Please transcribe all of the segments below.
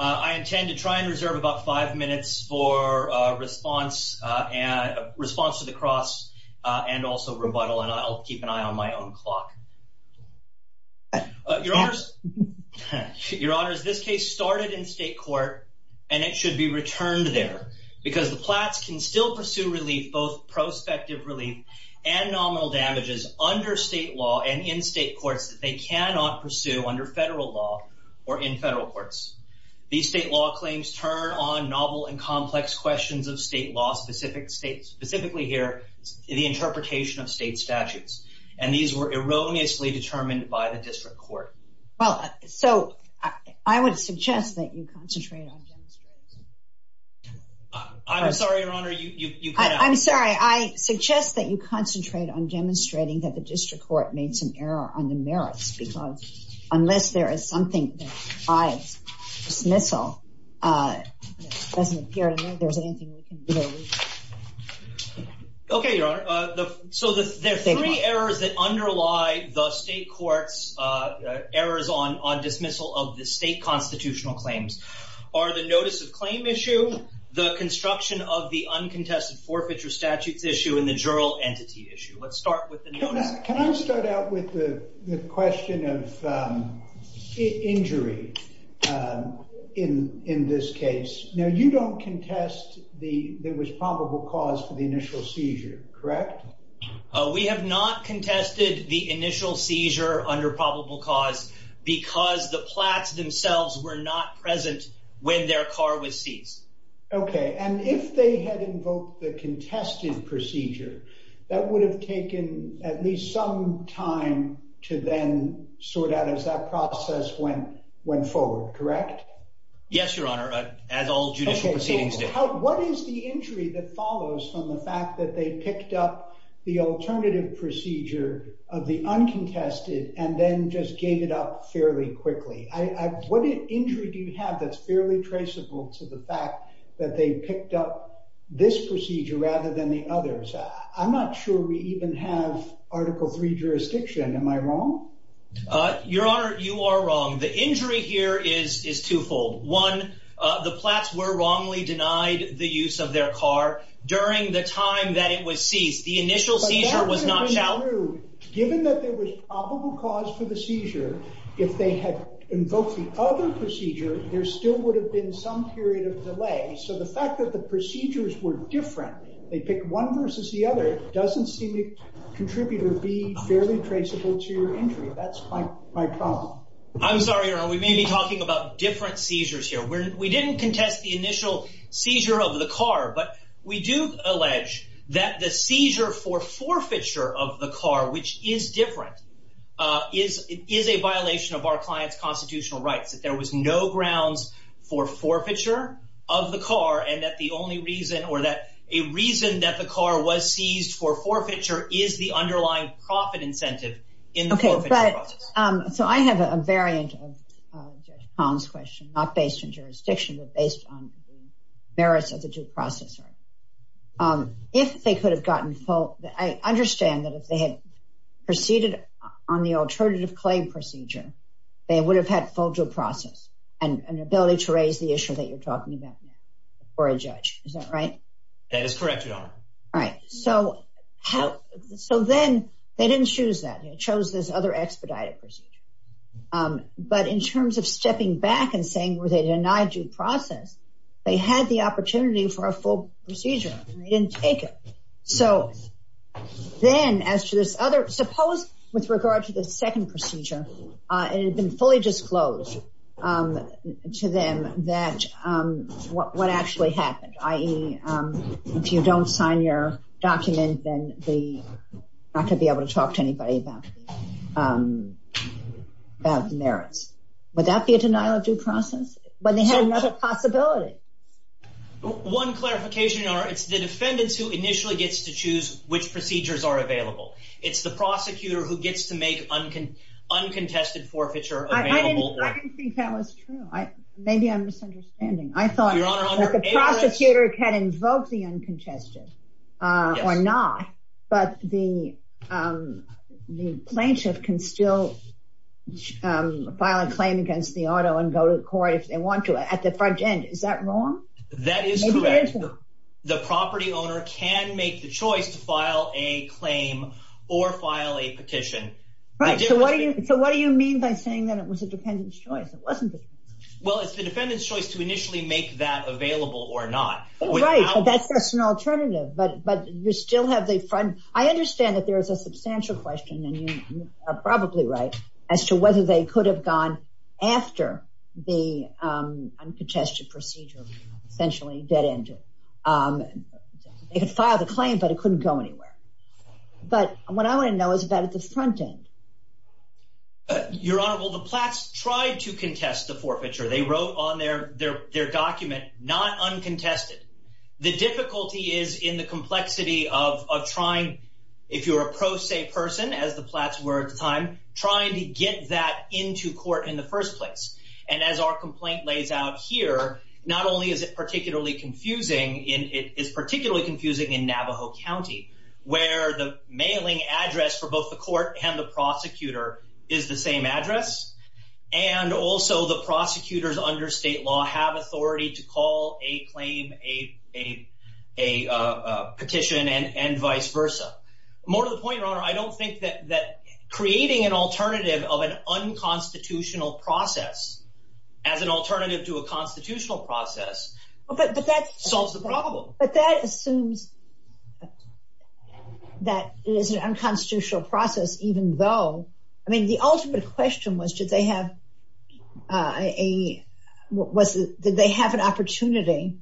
I intend to try and reserve about five minutes for response and response to the cross and also rebuttal and I'll keep an eye on my own clock. Your Honors, this case started in state court and it should be returned there because the Platts can still pursue relief, both prospective relief and nominal damages under state law and in state courts that they cannot pursue under federal law or in federal courts. These state law claims turn on novel and complex questions of state law, specifically here the interpretation of state court. Well, so I would suggest that you concentrate. I'm sorry, I'm sorry, I suggest that you concentrate on demonstrating that the district court made some error on the merits because unless there is something I dismissal doesn't appear to me there's anything. Okay, so there are three errors that underlie the state courts errors on dismissal of the state constitutional claims are the notice of claim issue, the construction of the uncontested forfeiture statutes issue, and the juror entity issue. Let's start with the notice. Can I start out with the question of injury in this case? Now you don't contest the there was probable cause for the correct. We have not contested the initial seizure under probable cause because the Platts themselves were not present when their car was seized. Okay, and if they had invoked the contested procedure that would have taken at least some time to then sort out as that process went went forward, correct? Yes, Your Honor, as all judicial proceedings do. What is the injury that follows from the fact that they picked up the alternative procedure of the uncontested and then just gave it up fairly quickly? What injury do you have that's fairly traceable to the fact that they picked up this procedure rather than the others? I'm not sure we even have Article 3 jurisdiction. Am I wrong? Your Honor, you are wrong. The injury here is twofold. One, the Platts were wrongly during the time that it was seized. The initial seizure was not shouted. Given that there was probable cause for the seizure, if they had invoked the other procedure, there still would have been some period of delay. So the fact that the procedures were different, they pick one versus the other, doesn't seem to contribute or be fairly traceable to your injury. That's my problem. I'm sorry, Your Honor, we may be talking about different seizures here. We didn't contest the initial seizure of the car, but we do allege that the seizure for forfeiture of the car, which is different, is a violation of our client's constitutional rights. That there was no grounds for forfeiture of the car and that the only reason or that a reason that the car was seized for forfeiture is the underlying profit incentive in the forfeiture process. So I have a variant of Tom's question, not based on jurisdiction, but based on the merits of the due process. If they could have gotten full, I understand that if they had proceeded on the alternative claim procedure, they would have had full due process and an ability to raise the issue that you're talking about for a judge. Is that right? That is correct, Your Honor. All right. So how, so then they didn't choose that. They chose this other expedited procedure. But in terms of stepping back and saying, were they denied due process, they had the opportunity for a full procedure and they didn't take it. So then as to this other, suppose with regard to the second procedure, it had been fully disclosed to them that, what actually happened, i.e., if you don't sign your document, then they could not be able to talk to anybody about the merits. Would that be a denial of due process? But they had another possibility. One clarification, Your Honor, it's the defendants who initially gets to choose which procedures are available. It's the prosecutor who gets to make uncontested forfeiture available. I didn't think that was true. Maybe I'm misunderstanding. I thought that the prosecutor can invoke the uncontested or not, but the the plaintiff can still file a claim against the auto and go to court if they want to at the front end. Is that wrong? That is correct. The property owner can make the choice to file a claim or file a petition. Right. So what do you mean by saying that it was a defendant's choice? It wasn't. Well, it's the defendant's choice to initially make that available or not. Right. That's an alternative. But you still have the front. I understand that there is a substantial question, and you are probably right, as to whether they could have gone after the uncontested procedure, essentially dead end. They could file the claim, but it couldn't go anywhere. But what I want to know is that at the front end. Your Honorable, the Platt's tried to contest the forfeiture they wrote on their their their document, not uncontested. The difficulty is in the complexity of trying, if you're a pro se person, as the Platt's were at the time, trying to get that into court in the first place. And as our complaint lays out here, not only is it particularly confusing, it is particularly confusing in Navajo County, where the mailing address for both the court and the prosecutor is the same address. And also the prosecutors under state law have authority to call a claim, a petition and vice versa. More to the point, Your Honor, I don't think that creating an alternative of an unconstitutional process as an alternative to a constitutional process solves the problem. It seems that it is an unconstitutional process, even though, I mean, the ultimate question was, did they have a, was did they have an opportunity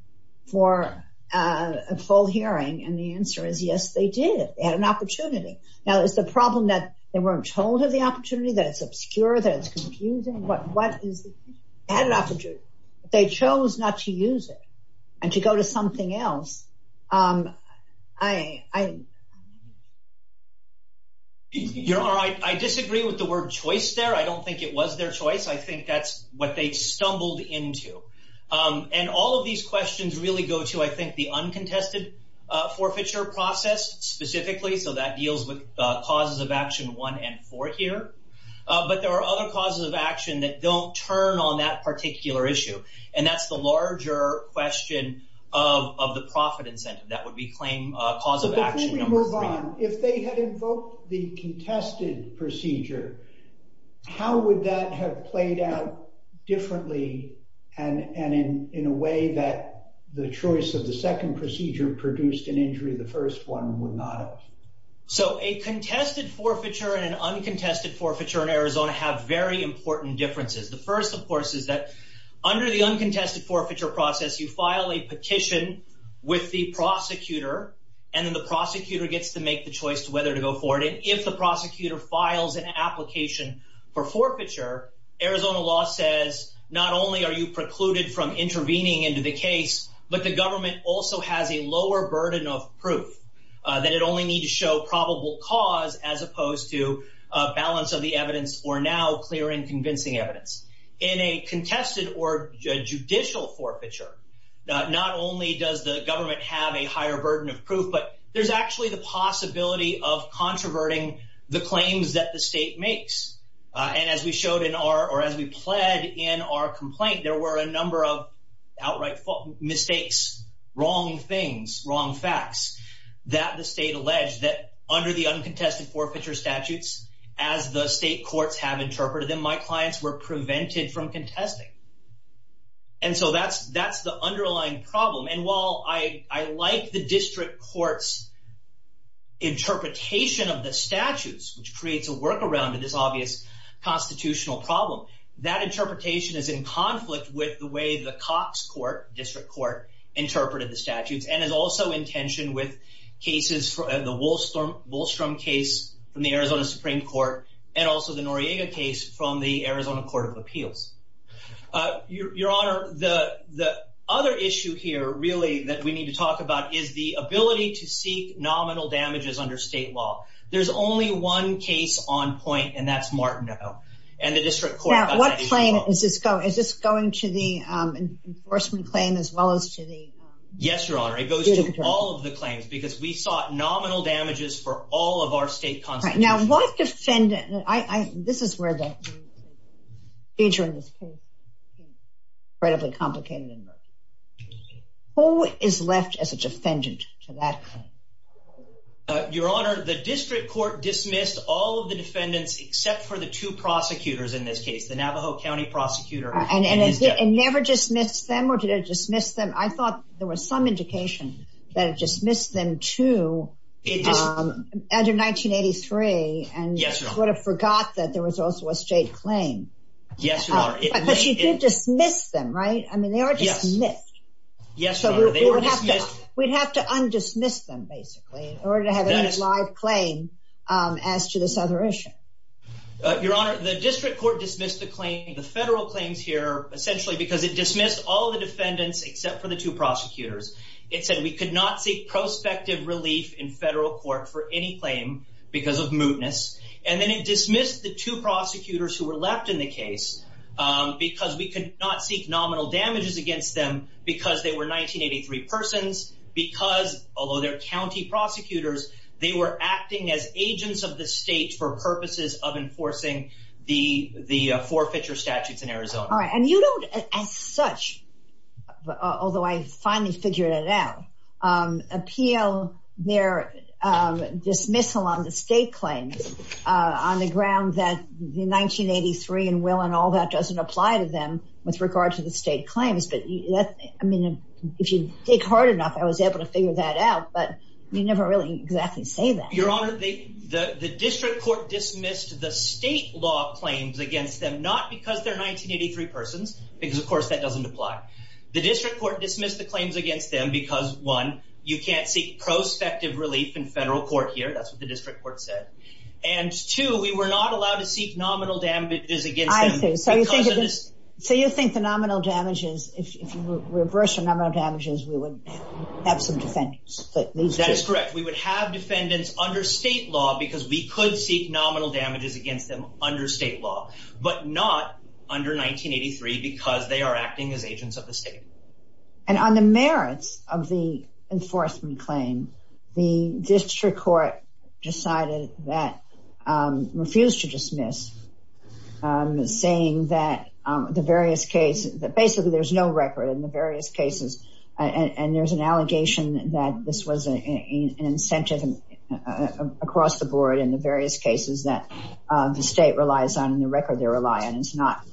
for a full hearing? And the answer is yes, they did have an opportunity. Now is the problem that they weren't told of the opportunity, that it's obscure, that it's confusing? But what is the, they had an opportunity, but they chose not to I, I, Your Honor, I disagree with the word choice there. I don't think it was their choice. I think that's what they stumbled into. And all of these questions really go to, I think, the uncontested forfeiture process specifically. So that deals with causes of action one and four here. But there are other causes of action that don't turn on that particular issue. And that's the larger question of the profit incentive that would be claim cause of action. Before we move on, if they had invoked the contested procedure, how would that have played out differently? And in a way that the choice of the second procedure produced an injury, the first one would not have? So a contested forfeiture and an uncontested forfeiture in Arizona have very important differences. The first, of course, is that under the uncontested forfeiture process, you file a petition with the prosecutor, and then the prosecutor gets to make the choice to whether to go forward. And if the prosecutor files an application for forfeiture, Arizona law says, not only are you precluded from intervening into the case, but you also have to show probable cause as opposed to a balance of the evidence or now clear and convincing evidence. In a contested or judicial forfeiture, not only does the government have a higher burden of proof, but there's actually the possibility of controverting the claims that the state makes. And as we showed in our, or as we pled in our complaint, there were a number of outright mistakes, wrong things, wrong facts that the state alleged that under the uncontested forfeiture statutes, as the state courts have interpreted them, my clients were prevented from contesting. And so that's the underlying problem. And while I like the district court's interpretation of the statutes, which creates a workaround to this obvious constitutional problem, that interpretation is in conflict with the way the Cox court, district court, interpreted the statutes and is also in tension with cases for the Wolfstrom case from the Arizona Supreme Court, and also the Noriega case from the Arizona Court of Appeals. Your Honor, the other issue here, really, that we need to talk about is the ability to seek nominal damages under state law. There's only one case on point, and that's Martineau and the district court. Now, what claim is this going to the enforcement claim as well as to the? Yes, Your Honor, it goes to all of the claims, because we sought nominal damages for all of our state constitutions. Now, what defendant, this is where the feature in this case, incredibly complicated. Who is left as a defendant to that? Your Honor, the district court dismissed all of the defendants, except for the two prosecutors in this case, the Navajo County prosecutor. And it never dismissed them, or did it dismiss them? I thought there was some indication that it dismissed them too, as of 1983, and would have forgot that there was also a in order to have a live claim as to this other issue. Your Honor, the district court dismissed the claim, the federal claims here, essentially because it dismissed all the defendants, except for the two prosecutors. It said we could not seek prospective relief in federal court for any claim because of mootness. And then it dismissed the two prosecutors who were left in the case because we could not seek nominal damages against them because they were 1983 persons, because, although they're county prosecutors, they were acting as agents of the state for purposes of enforcing the forfeiture statutes in Arizona. All right. And you don't, as such, although I finally figured it out, appeal their dismissal on the state claims on the ground that the 1983 and will and all that doesn't apply to them with regard to the state claims. But I mean, if you dig hard enough, I was able to figure that out. But you never really exactly say that. Your Honor, the district court dismissed the state law claims against them, not because they're 1983 persons, because, of course, that doesn't apply. The district court dismissed the claims against them because, one, you can't seek prospective relief in federal court here. That's what the district court said. And, two, we were not allowed to seek nominal damages against them. So you think the nominal damages, if you reverse the nominal damages, we would have some defendants. But that is correct. We would have defendants under state law because we could seek nominal damages against them under state law, but not under 1983 because they are acting as agents of the state. And on the merits of the enforcement claim, the district court decided that refused to dismiss, saying that the various cases that basically there's no record in the various cases. And there's an allegation that this was an incentive across the board in the various cases that the state relies on and the record they rely on. It's not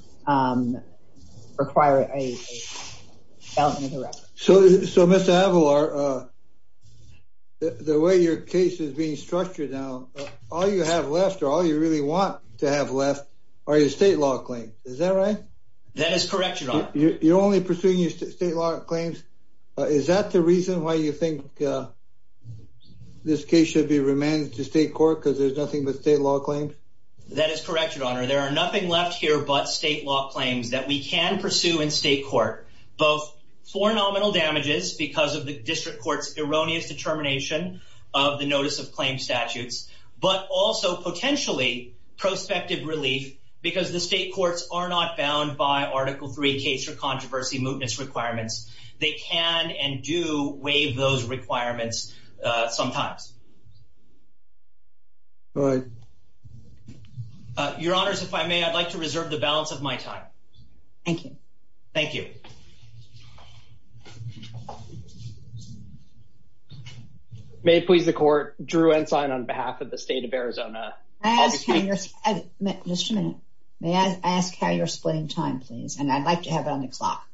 requiring a balance of the record. So, Mr. Avalar, the way your case is being structured now, all you have left or all you really want to have left are your state law claims. Is that right? That is correct, Your Honor. You're only pursuing your state law claims. Is that the reason why you think this case should be remanded to state court because there's nothing but state law claims? That is correct, Your Honor. There are nothing left here but state law claims that we can pursue in state court, both for nominal damages because of the district court's erroneous determination of the notice of claim statutes, but also potentially prospective relief because the state courts are not bound by Article III case or controversy mootness requirements. They can and do waive those requirements sometimes. Your Honors, if I may, I'd like to reserve the balance of my time. Thank you. Thank you. May it please the court. Drew Ensign on behalf of the state of Arizona. Just a minute. May I ask how you're splitting time, please? And I'd like to have it on the clock.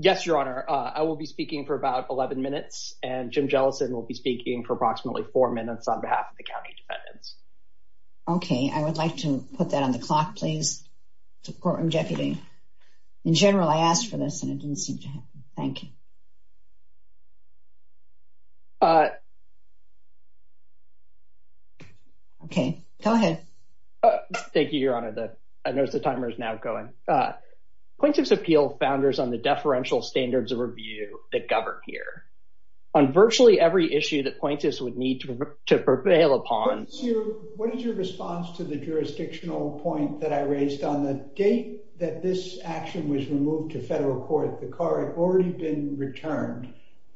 Yes, Your Honor. I will be speaking for about 11 minutes and Jim Jellison will be speaking for approximately four minutes on behalf of the county defendants. Okay. I would like to put that on the clock, please, the courtroom deputy. In general, I asked for this and it didn't seem to happen. Thank you. Okay, go ahead. Thank you, Your Honor. The, I noticed the timer is now going. Point of Appeal founders on the deferential standards of review that govern here on virtually every issue that point is would need to prevail upon. What is your response to the jurisdictional point that I raised on the date that this action was removed to federal court? The car had already been returned.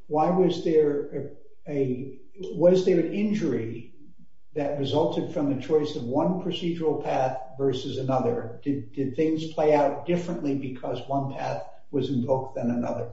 Why was there a, was there an injury that resulted from the choice of one procedural path versus another? Did things play out differently because one path was invoked than another?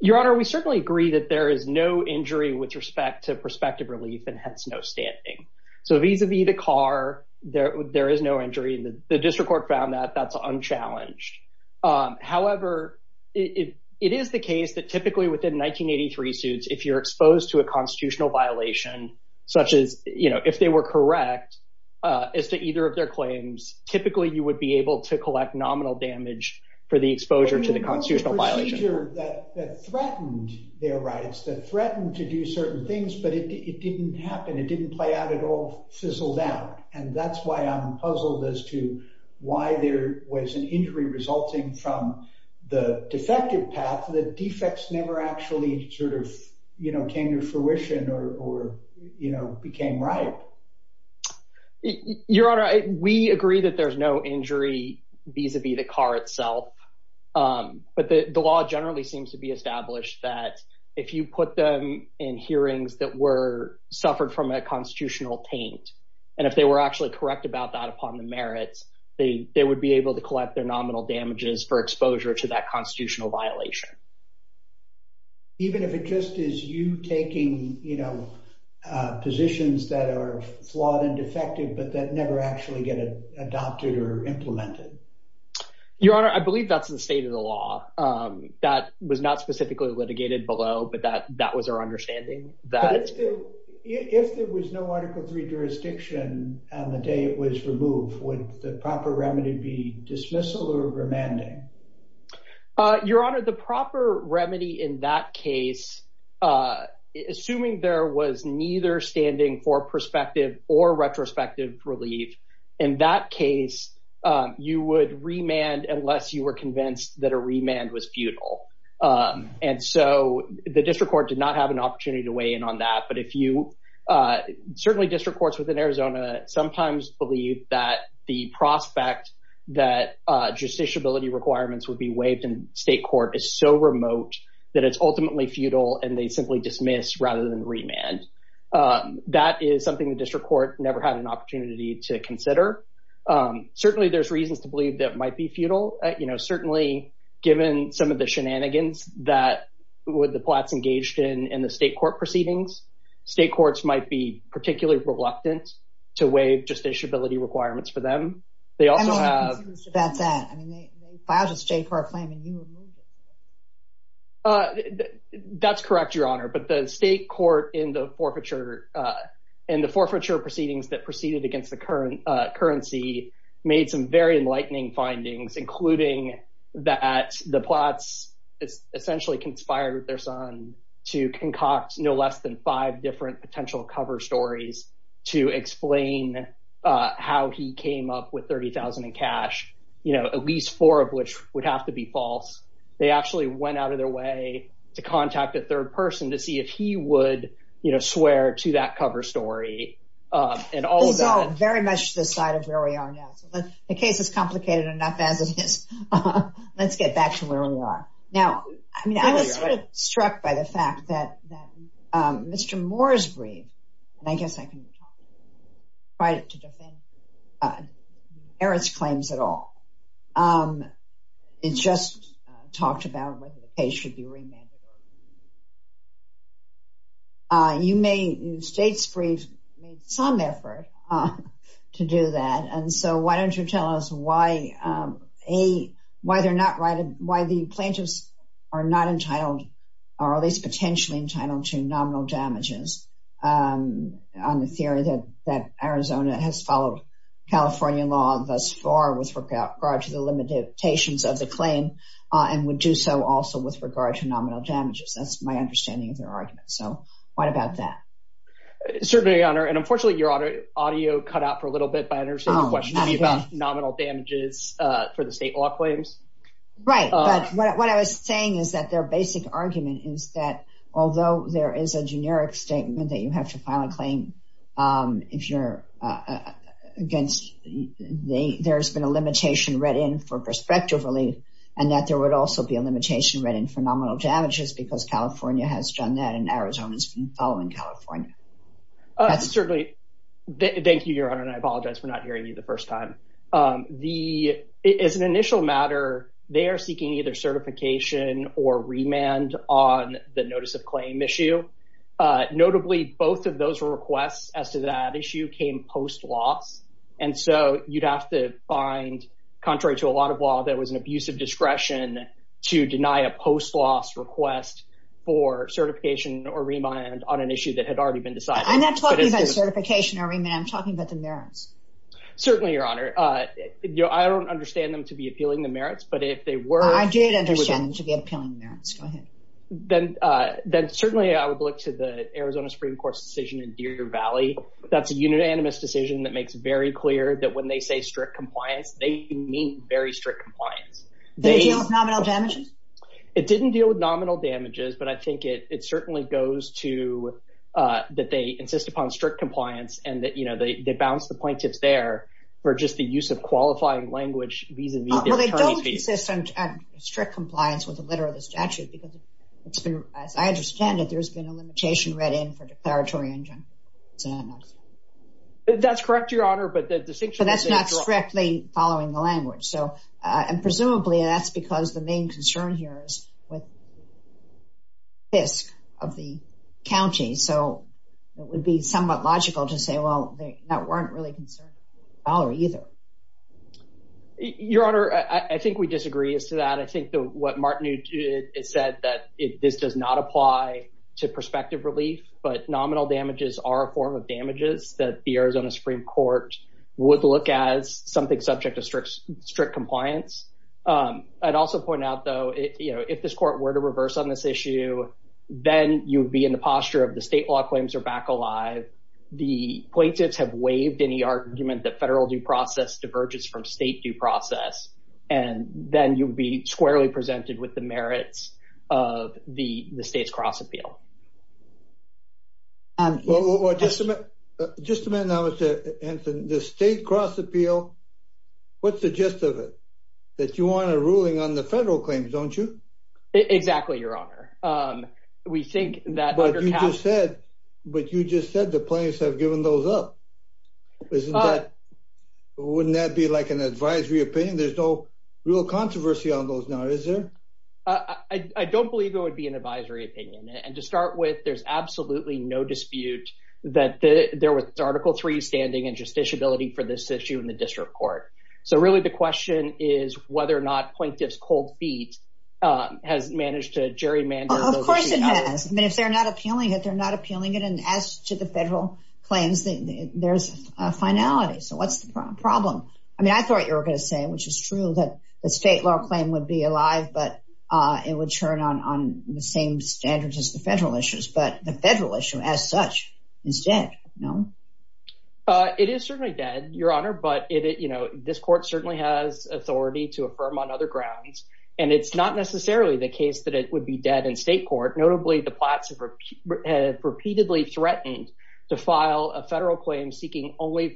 Your Honor, we certainly agree that there is no injury with respect to prospective relief and hence no standing. So vis-a-vis the car, there is no injury and the district court found that that's unchallenged. However, it is the case that typically within 1983 suits, if you're exposed to a constitutional violation, such as, you know, if they were correct as to either of their claims, typically you would be able to collect nominal damage for the exposure to the constitutional violation. That threatened their rights, that threatened to do certain things, but it didn't happen. It didn't play out at all, fizzled out. And that's why I'm puzzled as to why there was an injury resulting from the defective path. The defects never actually sort of, you know, came to fruition or, you know, became right. Your Honor, we agree that there's no injury vis-a-vis the car itself. But the law generally seems to be established that if you put them in hearings that were, suffered from a constitutional taint, and if they were actually correct about that upon the merits, they would be able to collect their nominal damages for exposure to that constitutional violation. Even if it just is you taking, you know, positions that are flawed and defective, but that never actually get adopted or implemented? Your Honor, I believe that's the state of the law. That was not specifically litigated below, but that was our understanding. But if there was no Article III jurisdiction on the day it was removed, would the proper remedy be dismissal or remanding? Your Honor, the proper remedy in that case, assuming there was neither standing for prospective or retrospective relief, in that case, you would remand unless you were convinced that a remand was futile. And so the district court did not have an opportunity to weigh in on that. But if you, certainly district courts within Arizona sometimes believe that the prospect that justiciability requirements would be waived in state court is so remote that it's ultimately futile and they simply dismiss rather than remand. That is something the district court never had an opportunity to consider. Certainly, there's reasons to believe that might be futile. You know, certainly given some of the shenanigans that the Platt's engaged in in the state court proceedings, state courts might be particularly reluctant to waive justiciability requirements for them. They also have... I'm not convinced about that. I mean, they filed a state court claim and you removed it. That's correct, Your Honor. But the state court in the forfeiture proceedings that proceeded against the currency made some very enlightening findings, including that the Platt's essentially conspired with their son to concoct no less than five different potential cover stories to explain how he came up with $30,000 in cash, you know, at least four of which would have to be false. They actually went out of their way to contact a third person to see if he would, you know, swear to that cover story and all of that. This is all very much to the side of where we are now. The case is complicated enough as it is. Let's get back to where we are. Now, I mean, I was struck by the fact that Mr. Moore's brief, and I guess I can try to defend Eric's claims at all. It just talked about whether the case should be remanded. You may... State's brief made some effort to do that. And so why don't you tell us why the plaintiffs are not entitled or at least potentially entitled to nominal damages on the theory that Arizona has followed California law thus far with regard to the limitations of the claim and would do so also with regard to nominal damages. That's my understanding of their argument. So what about that? Certainly, Your Honor. And unfortunately, your audio cut out for a little bit by understanding the question about nominal damages for the state law claims. Right. But what I was saying is that their basic argument is that although there is a generic statement that you have to file a claim if you're against, there's been a limitation read in for prospective relief and that there would also be a limitation read in for nominal damages because California has done that and Arizona's been following California law. That's certainly... Thank you, Your Honor. And I apologize for not hearing you the first time. As an initial matter, they are seeking either certification or remand on the notice of claim issue. Notably, both of those requests as to that issue came post loss. And so you'd have to find, contrary to a lot of law, that was an abusive discretion to deny a post loss request for certification or remand on an issue that had already been decided. I'm not talking about certification or remand. I'm talking about the merits. Certainly, Your Honor. I don't understand them to be appealing the merits, but if they were... I did understand them to be appealing the merits. Go ahead. Then certainly, I would look to the Arizona Supreme Court's decision in Deer Valley. That's a unanimous decision that makes very clear that when they say strict compliance, they mean very strict compliance. Did it deal with nominal damages? It didn't deal with nominal damages, but I think it certainly goes to that they insist upon strict compliance and that, you know, they bounce the plaintiffs there for just the use of qualifying language vis-a-vis their attorney fees. Well, they don't insist on strict compliance with the letter of the statute because, as I understand it, there's been a limitation read in for declaratory injunction. That's correct, Your Honor, but the distinction... But that's not strictly following the language. So, and presumably, that's because the main concern here is with the risk of the county. So, it would be somewhat logical to say, well, they weren't really concerned with the dollar either. Your Honor, I think we disagree as to that. I think what Martinu said that this does not apply to prospective relief, but nominal damages are a form of damages that the Arizona Supreme Court would look at as something subject to strict compliance. I'd also point out, though, you know, if this court were to reverse on this issue, then you'd be in the posture of the state law claims are back alive. The plaintiffs have waived any argument that federal due process diverges from state due process, and then you'd be squarely presented with the merits of the state's cross-appeal. Just a minute now, Mr. Henson. The state cross-appeal, what's the gist of it? That you want a ruling on the federal claims, don't you? Exactly, Your Honor. But you just said the plaintiffs have given those up. Wouldn't that be like an advisory opinion? There's no real controversy on those now, is there? I don't believe it would be an advisory opinion, and to start with, there's absolutely no dispute that there was Article III standing and justiciability for this issue in the district court. So really, the question is whether or not plaintiffs' cold feet has managed to gerrymander those issues. Of course it has. I mean, if they're not appealing it, they're not appealing it. And as to the federal claims, there's a finality. So what's the problem? I mean, I thought you were going to say, which is true, that the state law claim would be alive, but it would turn on the same standards as the federal issues. But the federal issue as such is dead, no? It is certainly dead, Your Honor. But this court certainly has authority to affirm on other grounds, and it's not necessarily the case that it would be dead in state court. Notably, the plats have repeatedly threatened to file a federal claim seeking only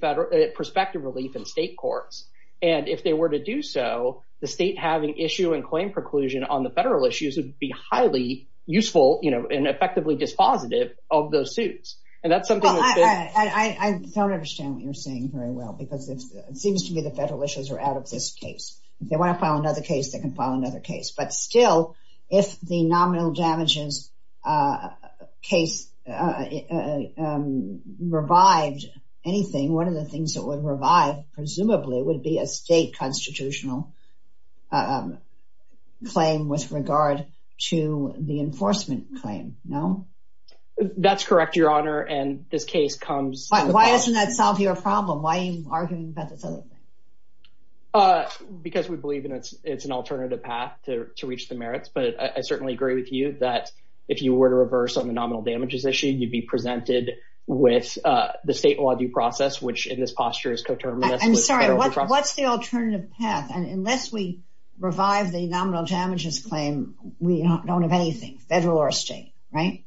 perspective relief in state courts. And if they were to do so, the state having issue and claim preclusion on the federal issues would be highly useful and effectively dispositive of those suits. I don't understand what you're saying very well, because it seems to me the federal issues are out of this case. If they want to file another case, they can file another case. But still, if the nominal damages case revived anything, one of the things that would revive, presumably, would be a state constitutional claim with regard to the enforcement claim, no? That's correct, Your Honor. And this case comes. Why doesn't that solve your problem? Why are you arguing about this other thing? Because we believe it's an alternative path to reach the merits. But I certainly agree with you that if you were to reverse on the nominal damages issue, you'd be presented with the state law due process, which in this posture is co-terminous. I'm sorry, what's the alternative path? And unless we revive the nominal damages claim, we don't have anything, federal or state, right?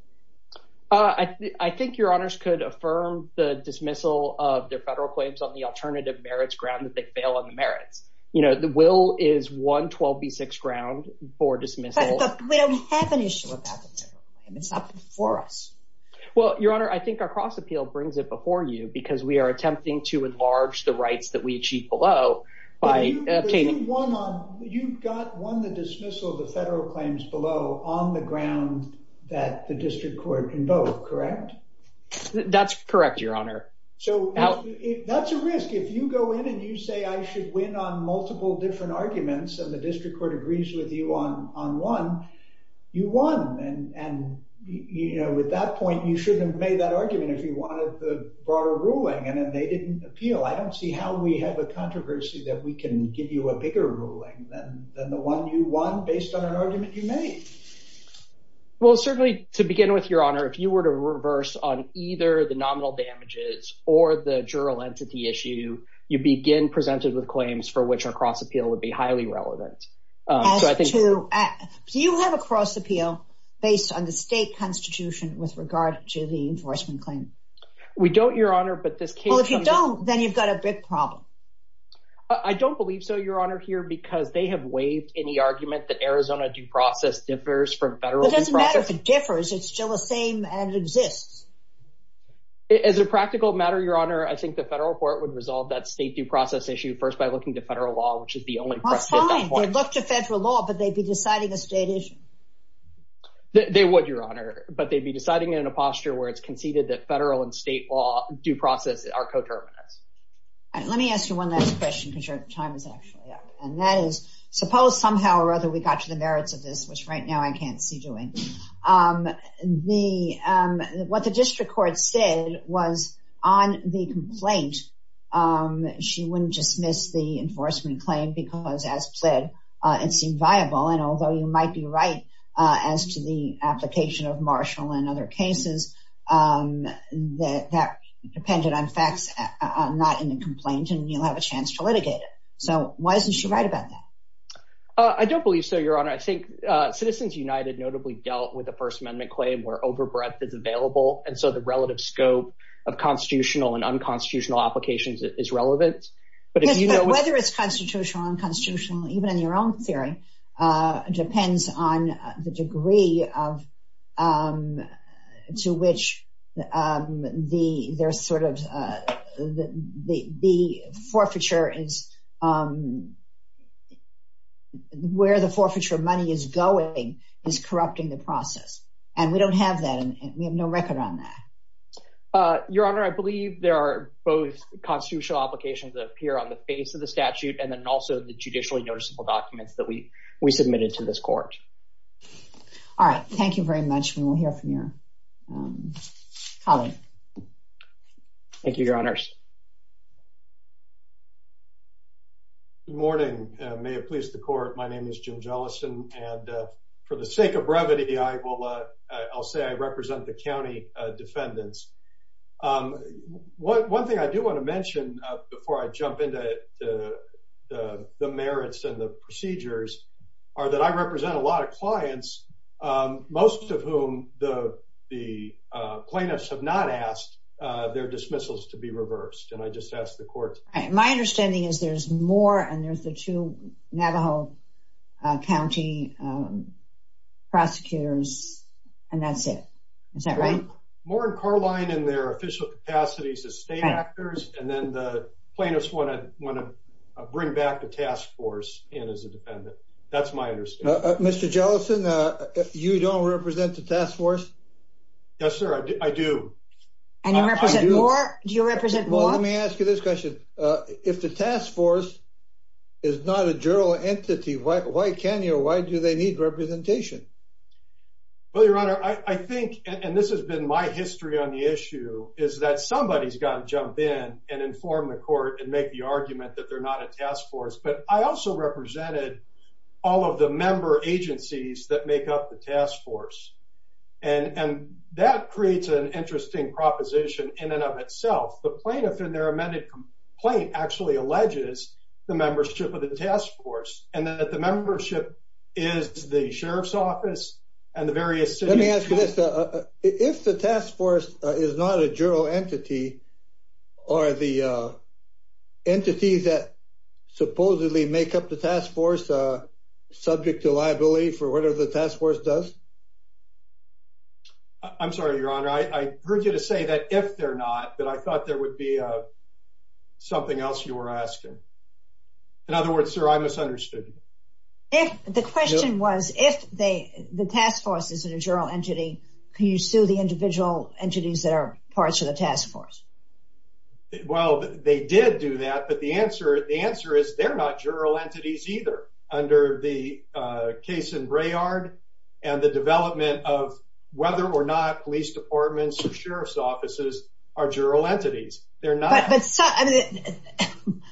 I think Your Honors could affirm the dismissal of their federal claims on the alternative merits ground that they fail on the merits. You know, the will is 112B6 ground for dismissal. But we don't have an issue about the federal claim. It's not before us. Well, Your Honor, I think our cross appeal brings it before you because we are attempting to enlarge the rights that we achieve below by obtaining... You've got one, the dismissal of the federal claims below on the ground that the district court can vote, correct? That's correct, Your Honor. So that's a risk. If you go in and you say, I should win on multiple different arguments and the district court agrees with you on one, you won. And, you know, with that point, you shouldn't have made that argument if you wanted the broader ruling and they didn't appeal. I don't see how we have a controversy that we can give you a bigger ruling than the one you won based on an argument you made. Well, certainly to begin with, Your Honor, if you were to reverse on either the nominal damages or the juror entity issue, you begin presented with claims for which our cross appeal would be highly relevant. So I think you have a cross appeal based on the state constitution with regard to the enforcement claim. We don't, Your Honor. Well, if you don't, then you've got a big problem. I don't believe so, Your Honor, here because they have waived any argument that Arizona due process differs from federal due process. It doesn't matter if it differs. It's still the same and it exists. As a practical matter, Your Honor, I think the federal court would resolve that state due process issue first by looking to federal law, which is the only... That's fine. They'd look to federal law, but they'd be deciding a state issue. They would, Your Honor, but they'd be deciding in a posture where it's conceded that federal and state law due process are coterminous. Let me ask you one last question because your time is actually up. And that is, suppose somehow or other we got to the merits of this, which right now I can't see doing. What the district court said was on the complaint, she wouldn't dismiss the enforcement claim because as pled, it seemed viable. And although you might be right as to the application of Marshall and other cases that depended on facts not in the complaint and you'll have a chance to litigate it. So why isn't she right about that? I don't believe so, Your Honor. I think Citizens United notably dealt with the First Amendment claim where over breadth is available. And so the relative scope of constitutional and unconstitutional applications is relevant. Whether it's constitutional or unconstitutional, even in your own theory, depends on the degree to which the forfeiture is, where the forfeiture money is going is corrupting the process. And we don't have that. And we have no record on that. Your Honor, I believe there are both constitutional applications that appear on the face of the statute and then also the judicially noticeable documents that we submitted to this court. All right. Thank you very much. We will hear from your colleague. Thank you, Your Honors. Good morning. May it please the court. My name is Jim Jellison. And for the sake of brevity, I will say I represent the county defendants. One thing I do want to mention before I jump into the merits and the procedures are that I represent a lot of clients, most of whom the plaintiffs have not asked their dismissals to be reversed. And I just ask the court. My understanding is there's more and there's the two Navajo County prosecutors. And that's it. Is that right? More in Carline and their official capacities as state actors. And then the plaintiffs want to bring back the task force in as a defendant. That's my understanding. Mr. Jellison, you don't represent the task force? Yes, sir. I do. And you represent more? Do you represent more? Let me ask you this question. If the task force is not a general entity, why can you or why do they need representation? Well, Your Honor, I think, and this has been my history on the issue, is that somebody's got to jump in and inform the court and make the argument that they're not a task force. But I also represented all of the member agencies that make up the task force. And that creates an interesting proposition in and of itself. The plaintiff in their amended complaint actually alleges the membership of the task force and that the membership is the sheriff's office and the various cities. Let me ask you this. If the task force is not a general entity, are the entities that supposedly make up the task force subject to liability for whatever the task force does? I'm sorry, Your Honor. I heard you to say that if they're not, that I thought there would be something else you were asking. In other words, sir, I misunderstood. The question was, if the task force isn't a general entity, can you sue the individual entities that are parts of the task force? Well, they did do that. But the answer is they're not general entities either, under the case in Braillard and the development of whether or not police departments or sheriff's offices are general entities. They're not. But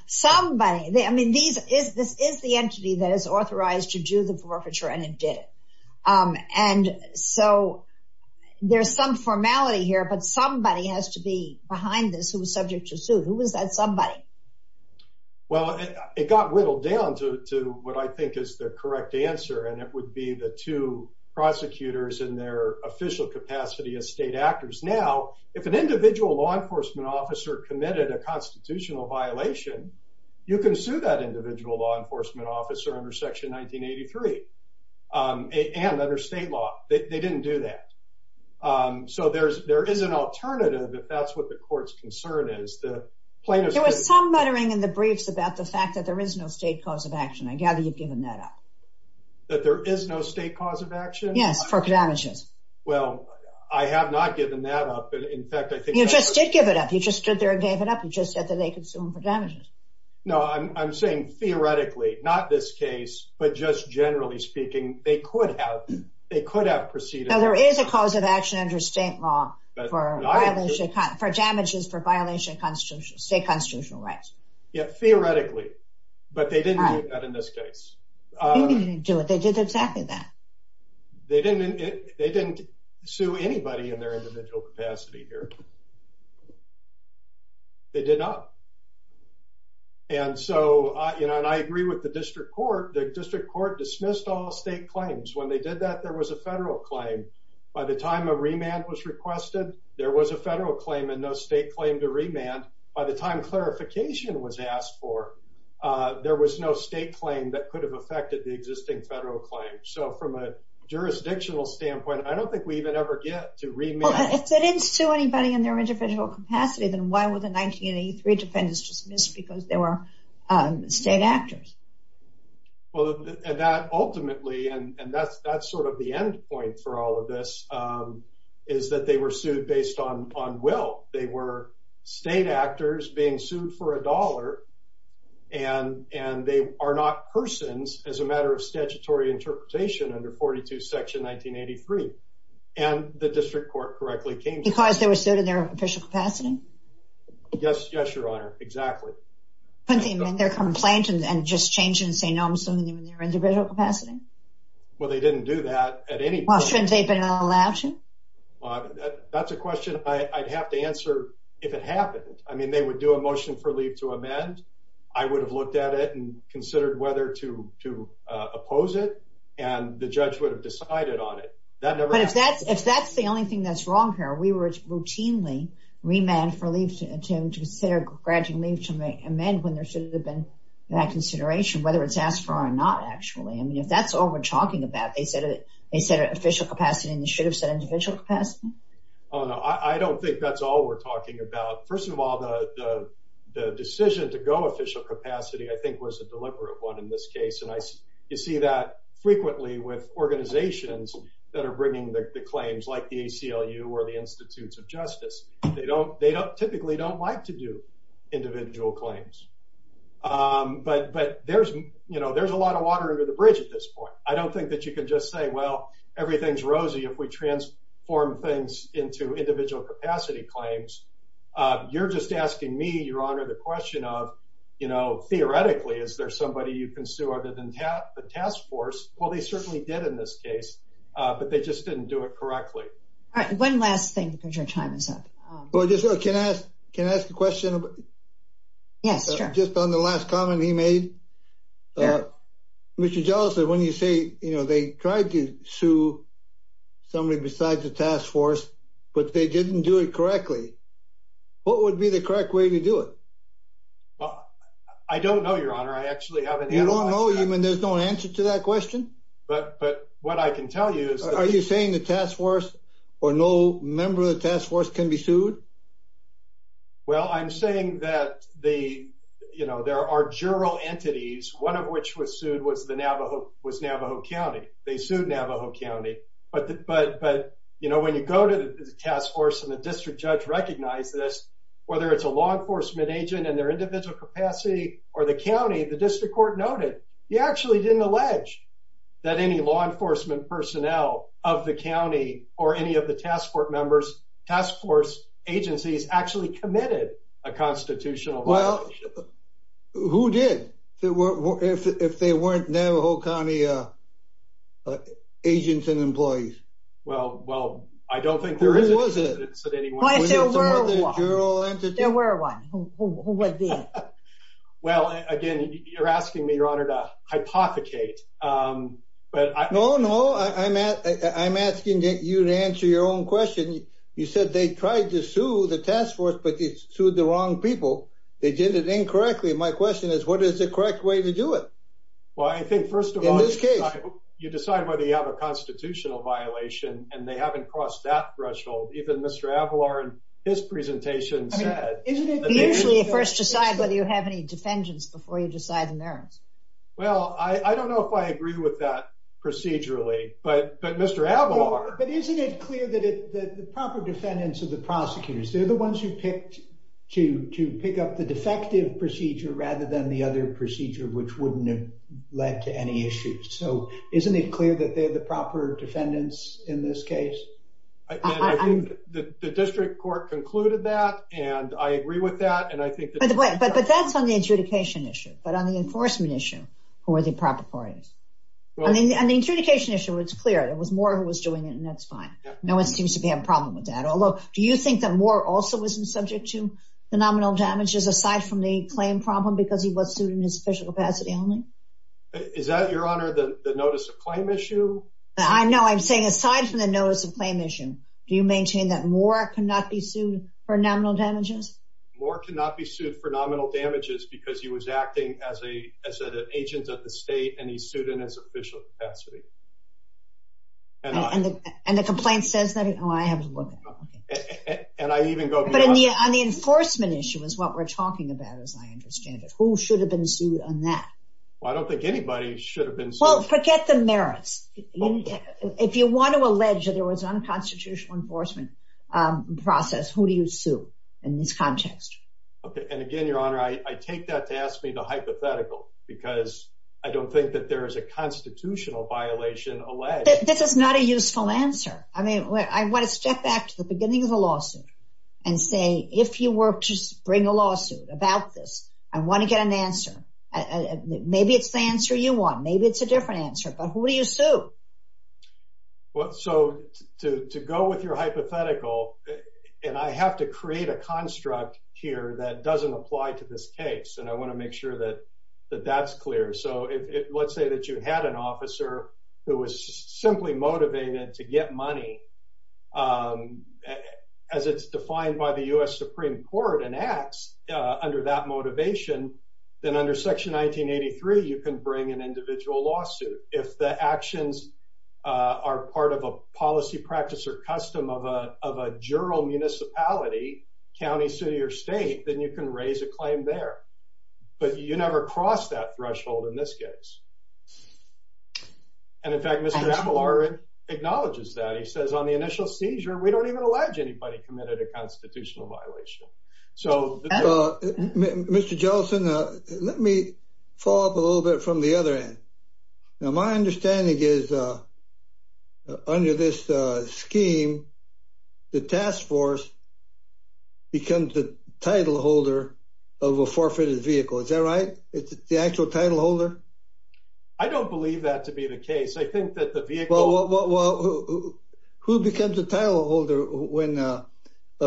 somebody, I mean, this is the entity that is authorized to do the forfeiture and it did it. And so there's some formality here, but somebody has to be behind this who was subject to sue. Who was that somebody? Well, it got whittled down to what I think is the correct answer. And it would be the two prosecutors in their official capacity as state actors. Now, if an individual law enforcement officer committed a constitutional violation, you can sue that individual law enforcement officer under Section 1983 and under state law. They didn't do that. So there is an alternative, if that's what the court's concern is. There was some muttering in the briefs about the fact that there is no state cause of action. I gather you've given that up. That there is no state cause of action? Yes, for damages. Well, I have not given that up. In fact, I think... You just did give it up. You just stood there and gave it up. You just said that they could sue them for damages. No, I'm saying theoretically, not this case, but just generally speaking, they could have proceeded... Now, there is a cause of action under state law for damages for violation of state constitutional rights. Yeah, theoretically. But they didn't do that in this case. They didn't do it. They did exactly that. They didn't sue anybody in their individual capacity here. They did not. And so, you know, and I agree with the district court. The district court dismissed all state claims. When they did that, there was a federal claim. By the time a remand was requested, there was a federal claim and no state claim to remand. By the time clarification was asked for, there was no state claim that could have affected the existing federal claim. So from a jurisdictional standpoint, I don't think we even ever get to remand. If they didn't sue anybody in their individual capacity, then why were the 1983 defendants dismissed? Because they were state actors. Well, and that ultimately, and that's sort of the end point for all of this, is that they were sued based on will. They were state actors being sued for a dollar, and they are not persons as a matter of statutory interpretation under 42 section 1983. And the district court correctly came to that. Because they were sued in their official capacity? Yes, yes, Your Honor. Exactly. Couldn't they amend their complaint and just change it and say, no, I'm suing them in their individual capacity? Well, they didn't do that at any point. Well, shouldn't they have been allowed to? That's a question I'd have to answer if it happened. I mean, they would do a motion for leave to amend. I would have looked at it and considered whether to oppose it, and the judge would have decided on it. But if that's the only thing that's wrong here, we were routinely remanded for leave to consider a graduate leave to amend when there should have been that consideration, whether it's asked for or not, actually. I mean, if that's all we're talking about, they said it at official capacity, and they should have said individual capacity? Oh, no. I don't think that's all we're talking about. First of all, the decision to go official capacity, I think, was a deliberate one in this case. And you see that frequently with organizations that are bringing the claims, like the ACLU or the Institutes of Justice. They typically don't like to do individual claims. But there's a lot of water under the bridge at this point. I don't think that you can just say, well, everything's rosy if we transform things into individual capacity claims. You're just asking me, Your Honor, the question of, you know, theoretically, is there somebody you can sue other than the task force? Well, they certainly did in this case, but they just didn't do it correctly. All right. One last thing because your time is up. Well, just so I can ask, can I ask a question? Yes, sure. Just on the last comment he made, Mr. I tried to sue somebody besides the task force, but they didn't do it correctly. What would be the correct way to do it? I don't know, Your Honor. I actually haven't. You don't know? You mean there's no answer to that question? But what I can tell you is. Are you saying the task force or no member of the task force can be sued? Well, I'm saying that the, you know, there are general entities, one of which was sued was the Navajo, was Navajo County. They sued Navajo County. But, but, but, you know, when you go to the task force and the district judge recognized this, whether it's a law enforcement agent and their individual capacity or the county, the district court noted. He actually didn't allege that any law enforcement personnel of the county or any of the task force members, task force agencies actually committed a constitutional violation. Well, who did? There were, if they weren't Navajo County agents and employees. Well, well, I don't think there is. Who was it? Was it some other general entity? There were one. Who would be? Well, again, you're asking me, Your Honor, to hypothecate, but I. No, no. I'm asking you to answer your own question. You said they tried to sue the task force, but they sued the wrong people. They did it incorrectly. My question is, what is the correct way to do it? Well, I think first of all, in this case, you decide whether you have a constitutional violation and they haven't crossed that threshold. Even Mr. Avalar and his presentation said, usually first decide whether you have any defendants before you decide the merits. Well, I don't know if I agree with that procedurally, but, but Mr. Avalar, but isn't it clear that the proper defendants of the prosecutors, they're the ones who picked to, to pick up the defective. Procedure rather than the other procedure, which wouldn't have led to any issues. So isn't it clear that they're the proper defendants in this case? I think the district court concluded that and I agree with that. And I think, but that's on the adjudication issue, but on the enforcement issue, who are the proper parties? I mean, the adjudication issue, it's clear. There was more who was doing it and that's fine. No one seems to be having a problem with that. Although do you think that more also isn't subject to the nominal damages aside from the claim problem? Because he was sued in his official capacity only. Is that your honor, the notice of claim issue? I know I'm saying aside from the notice of claim issue, do you maintain that more cannot be sued for nominal damages? More cannot be sued for nominal damages because he was acting as a, as an agent at the state and he sued in his official capacity. And the complaint says that, oh, I have to look at it. And I even go beyond that. But on the enforcement issue is what we're talking about, as I understand it. Who should have been sued on that? Well, I don't think anybody should have been sued. Well, forget the merits. If you want to allege that there was unconstitutional enforcement process, who do you sue in this context? Okay. And again, your honor, I take that to ask me to hypothetical because I don't think that there is a constitutional violation alleged. This is not a useful answer. I mean, I want to step back to the beginning of the lawsuit and say, if you were to bring a lawsuit about this, I want to get an answer. Maybe it's the answer you want. Maybe it's a different answer. But who do you sue? Well, so to go with your hypothetical and I have to create a construct here that doesn't apply to this case. And I want to make sure that that's clear. So let's say that you had an officer who was simply motivated to get money as it's defined by the U.S. Supreme Court and acts under that motivation. Then under section 1983, you can bring an individual lawsuit. If the actions are part of a policy practice or custom of a of a juror municipality, county, city or state, then you can raise a claim there. But you never cross that threshold in this case. And in fact, Mr. Appalachian acknowledges that he says on the initial seizure, we don't even allege anybody committed a constitutional violation. So, Mr. Johnson, let me follow up a little bit from the other end. Now, my understanding is under this scheme, the task force becomes the title holder of a forfeited vehicle. Is that right? It's the actual title holder. I don't believe that to be the case. I think that the vehicle. Well, who becomes a title holder when a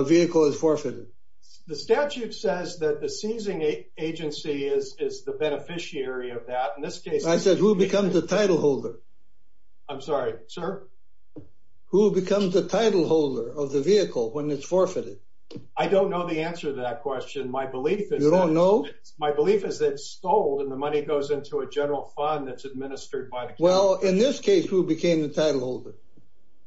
vehicle is forfeited? The statute says that the seizing agency is the beneficiary of that. In this case, I said, who becomes the title holder? I'm sorry, sir. Who becomes the title holder of the vehicle when it's forfeited? I don't know the answer to that question. My belief is, you don't know. My belief is it's stolen. The money goes into a general fund that's administered by. Well, in this case, who became the title holder?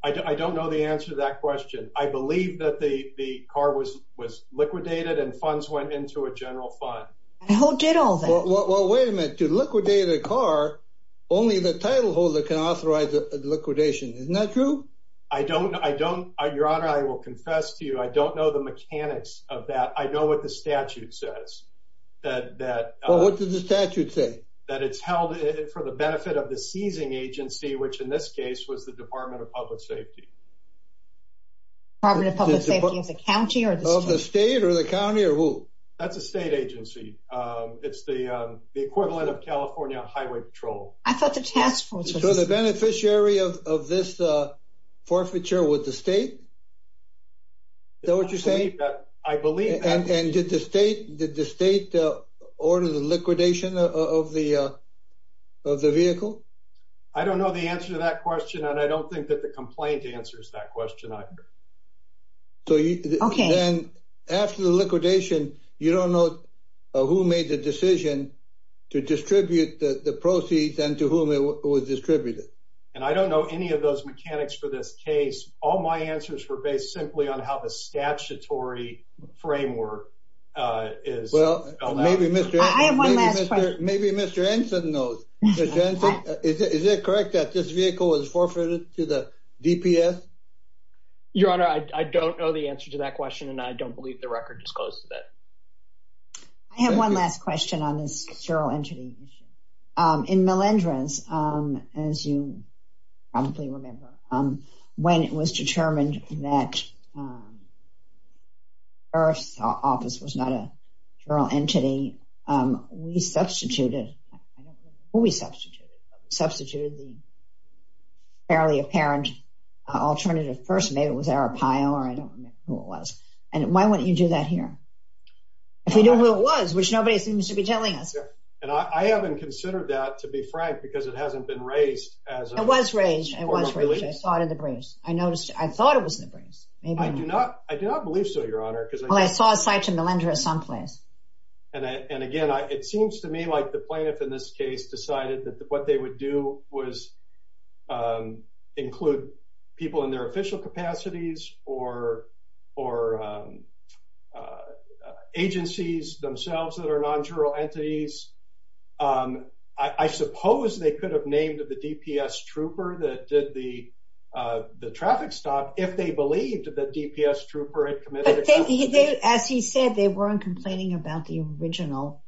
I don't know the answer to that question. I believe that the car was was liquidated and funds went into a general fund. Who did all that? Well, wait a minute. To liquidate a car, only the title holder can authorize the liquidation. Isn't that true? I don't. I don't. Your Honor, I will confess to you. I don't know the mechanics of that. I know what the statute says. Well, what does the statute say? That it's held for the benefit of the seizing agency, which in this case was the Department of Public Safety. Department of Public Safety is a county or the state? The state or the county or who? That's a state agency. It's the equivalent of California Highway Patrol. I thought the task force was... So the beneficiary of this forfeiture was the state? Is that what you're saying? I believe that. And did the state order the liquidation of the vehicle? I don't know the answer to that question. And I don't think that the complaint answers that question either. So then after the liquidation, you don't know who made the decision to distribute the proceeds and to whom it was distributed. And I don't know any of those mechanics for this case. All my answers were based simply on how the statutory framework is spelled out. Well, maybe Mr. I have one last question. Maybe Mr. Anson knows. Is it correct that this vehicle was forfeited to the DPS? Your Honor, I don't know the answer to that question. And I don't believe the record disclosed that. I have one last question on this feral entity. In Melendrez, as you probably remember, when it was determined that IRF's office was not a feral entity, we substituted... Maybe it was Arapaio, or I don't know who it was. And why wouldn't you do that here? If we knew who it was, which nobody seems to be telling us. And I haven't considered that, to be frank, because it hasn't been raised as a... It was raised. It was raised. I saw it in the briefs. I noticed. I thought it was in the briefs. I do not believe so, Your Honor, because... Well, I saw a cite to Melendrez someplace. And again, it seems to me like the plaintiff in this case decided that what they would do was include people in their official capacities or agencies themselves that are non-feral entities. I suppose they could have named the DPS trooper that did the traffic stop if they believed that DPS trooper had committed... As he said, they weren't complaining about the original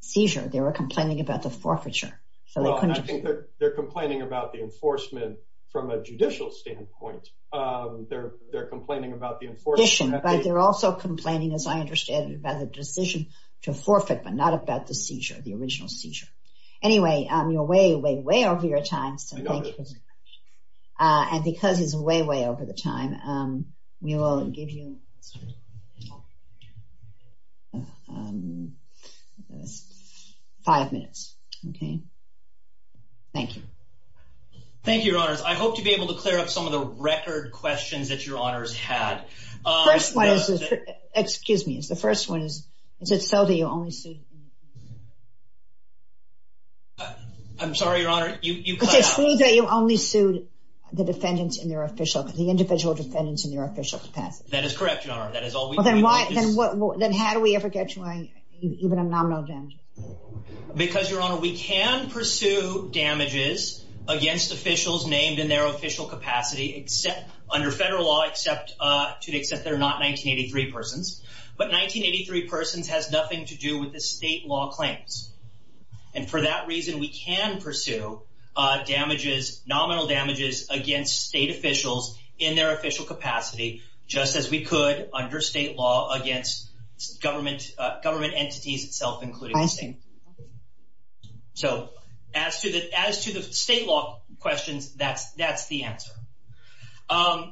seizure. They were complaining about the forfeiture. So they couldn't... I think they're complaining about the enforcement from a judicial standpoint. They're complaining about the enforcement... But they're also complaining, as I understand it, about the decision to forfeit, but not about the seizure, the original seizure. Anyway, you're way, way, way over your time. So thank you. And because he's way, way over the time, we will give you five minutes. Okay. Thank you. Thank you, Your Honors. I hope to be able to clear up some of the record questions that Your Honors had. First one is... Excuse me. The first one is, is it so that you only sued... I'm sorry, Your Honor. You cut out. You only sued the defendants in their official... The individual defendants in their official capacity. That is correct, Your Honor. That is all we... Well, then why... Then what... Then how do we ever get to even a nominal damage? Because, Your Honor, we can pursue damages against officials named in their official capacity, except under federal law, except to the extent that they're not 1983 persons. But 1983 persons has nothing to do with the state law claims. And for that reason, we can pursue damages, nominal damages against state officials in their official capacity, just as we could under state law against government entities itself, including the state. So as to the state law questions, that's the answer.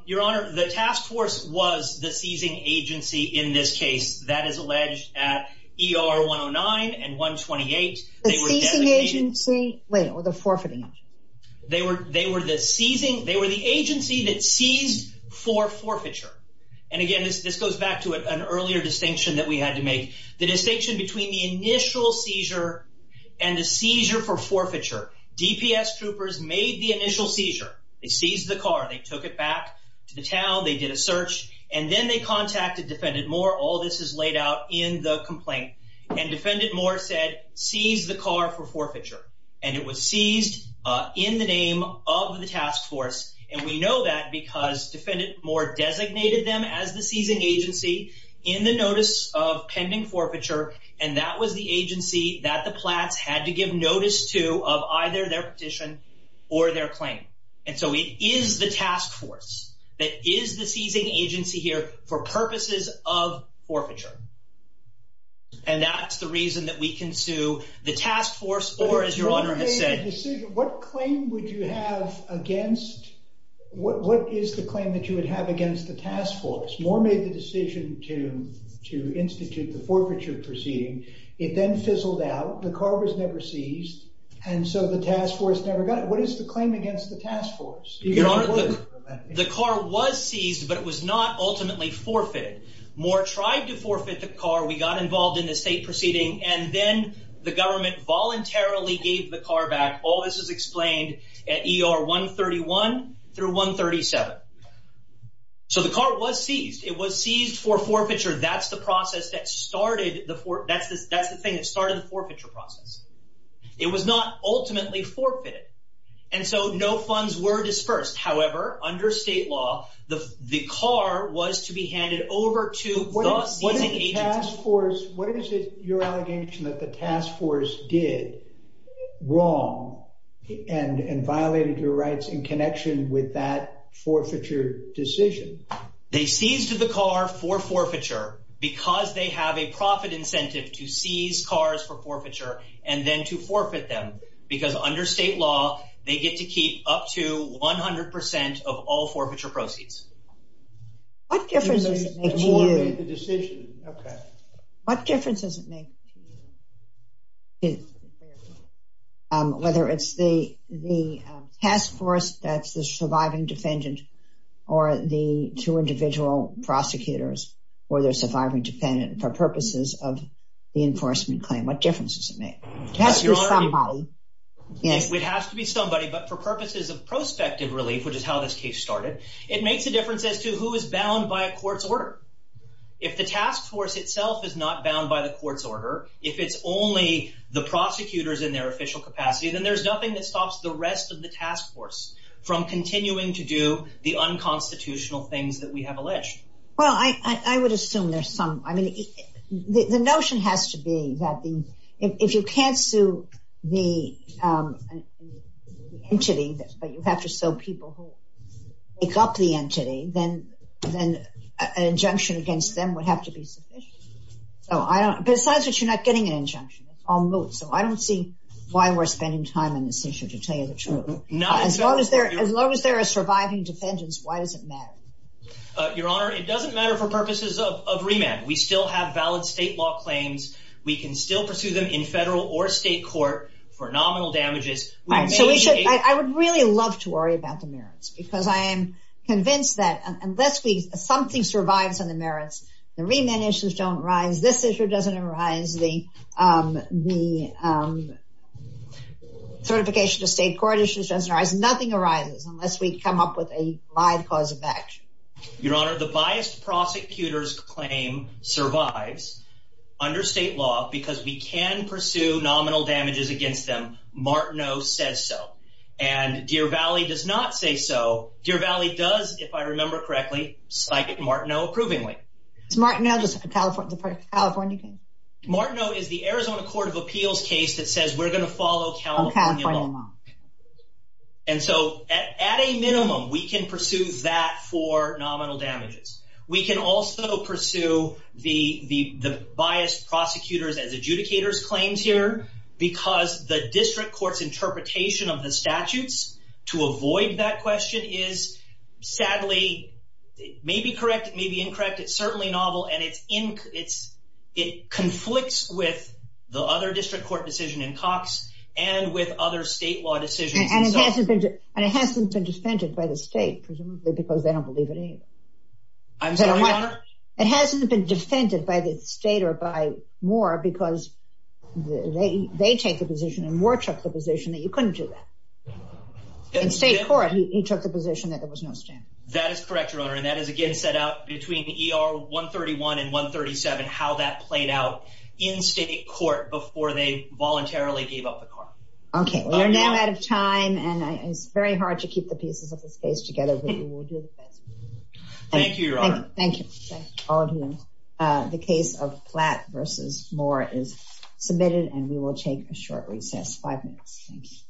Your Honor, the task force was the seizing agency in this case. That is alleged at ER 109 and 128. The seizing agency? Wait, or the forfeiting agency? They were the seizing... They were the agency that seized for forfeiture. And again, this goes back to an earlier distinction that we had to make. The distinction between the initial seizure and the seizure for forfeiture. DPS troopers made the initial seizure. They seized the car. They took it back to the town. They did a search. And then they contacted Defendant Moore. All this is laid out in the complaint. And Defendant Moore said, seize the car for forfeiture. And it was seized in the name of the task force. And we know that because Defendant Moore designated them as the seizing agency in the notice of pending forfeiture. And that was the agency that the Platts had to give notice to of either their petition or their claim. And so it is the task force that is the seizing agency here for purposes of forfeiture. And that's the reason that we can sue the task force or, as Your Honor has said... What claim would you have against... What is the claim that you would have against the task force? Moore made the decision to institute the forfeiture proceeding. It then fizzled out. The car was never seized. And so the task force never got it. What is the claim against the task force? Your Honor, the car was seized, but it was not ultimately forfeited. Moore tried to forfeit the car. We got involved in the state proceeding. And then the government voluntarily gave the car back. All this is explained at ER 131 through 137. So the car was seized. It was seized for forfeiture. That's the process that started the forfeiture process. It was not ultimately forfeited. And so no funds were disbursed. However, under state law, the car was to be handed over to the seizing agency. What is your allegation that the task force did wrong and violated your rights in connection with that forfeiture decision? They seized the car for forfeiture because they have a profit incentive to seize cars for forfeiture and then to forfeit them. Because under state law, they get to keep up to 100 percent of all forfeiture proceeds. What difference does it make to you? The decision. Okay. What difference does it make? Whether it's the task force that's the surviving defendant or the two individual prosecutors or the surviving defendant for purposes of the enforcement claim. What difference does it make? It has to be somebody. It has to be somebody. But for purposes of prospective relief, which is how this case started, it makes a difference as to who is bound by a court's order. If the task force itself is not bound by the court's order, if it's only the prosecutors in their official capacity, then there's nothing that stops the rest of the task force from continuing to do the unconstitutional things that we have alleged. Well, I would assume there's some. I mean, the notion has to be that if you can't sue the entity, but you have to sue people who make up the entity, then an injunction against them would have to be sufficient. So besides that, you're not getting an injunction. It's all moot. So I don't see why we're spending time on this issue, to tell you the truth. As long as there are surviving defendants, why does it matter? Your Honor, it doesn't matter for purposes of remand. We still have valid state law claims. We can still pursue them in federal or state court for nominal damages. So I would really love to worry about the merits because I am convinced that unless something survives on the merits, the remand issues don't arise. This issue doesn't arise. The certification of state court issues doesn't arise. Nothing arises unless we come up with a live cause of action. Your Honor, the biased prosecutor's claim survives under state law because we can pursue nominal damages against them. Martineau says so. And Deer Valley does not say so. Deer Valley does, if I remember correctly, cite Martineau approvingly. Is Martineau just a California case? Martineau is the Arizona Court of Appeals case that says we're going to follow California law. And so at a minimum, we can pursue that for nominal damages. We can also pursue the biased prosecutor's as adjudicator's claims here because the district court's interpretation of the statutes to avoid that question is sadly, may be correct, may be incorrect. It's certainly novel and it conflicts with the other district court decision in Cox and with other state law decisions. And it hasn't been defended by the state, presumably because they don't believe it either. I'm sorry, Your Honor? It hasn't been defended by the state or by Moore because they take the position and Moore took the position that you couldn't do that. In state court, he took the position that there was no standard. That is correct, Your Honor. And that is, again, set out between ER 131 and 137, how that played out in state court before they voluntarily gave up the car. Okay, we are now out of time and it's very hard to keep the pieces of the space together, but we will do the best. Thank you, Your Honor. Thank you. The case of Platt versus Moore is submitted and we will take a short recess. Five minutes.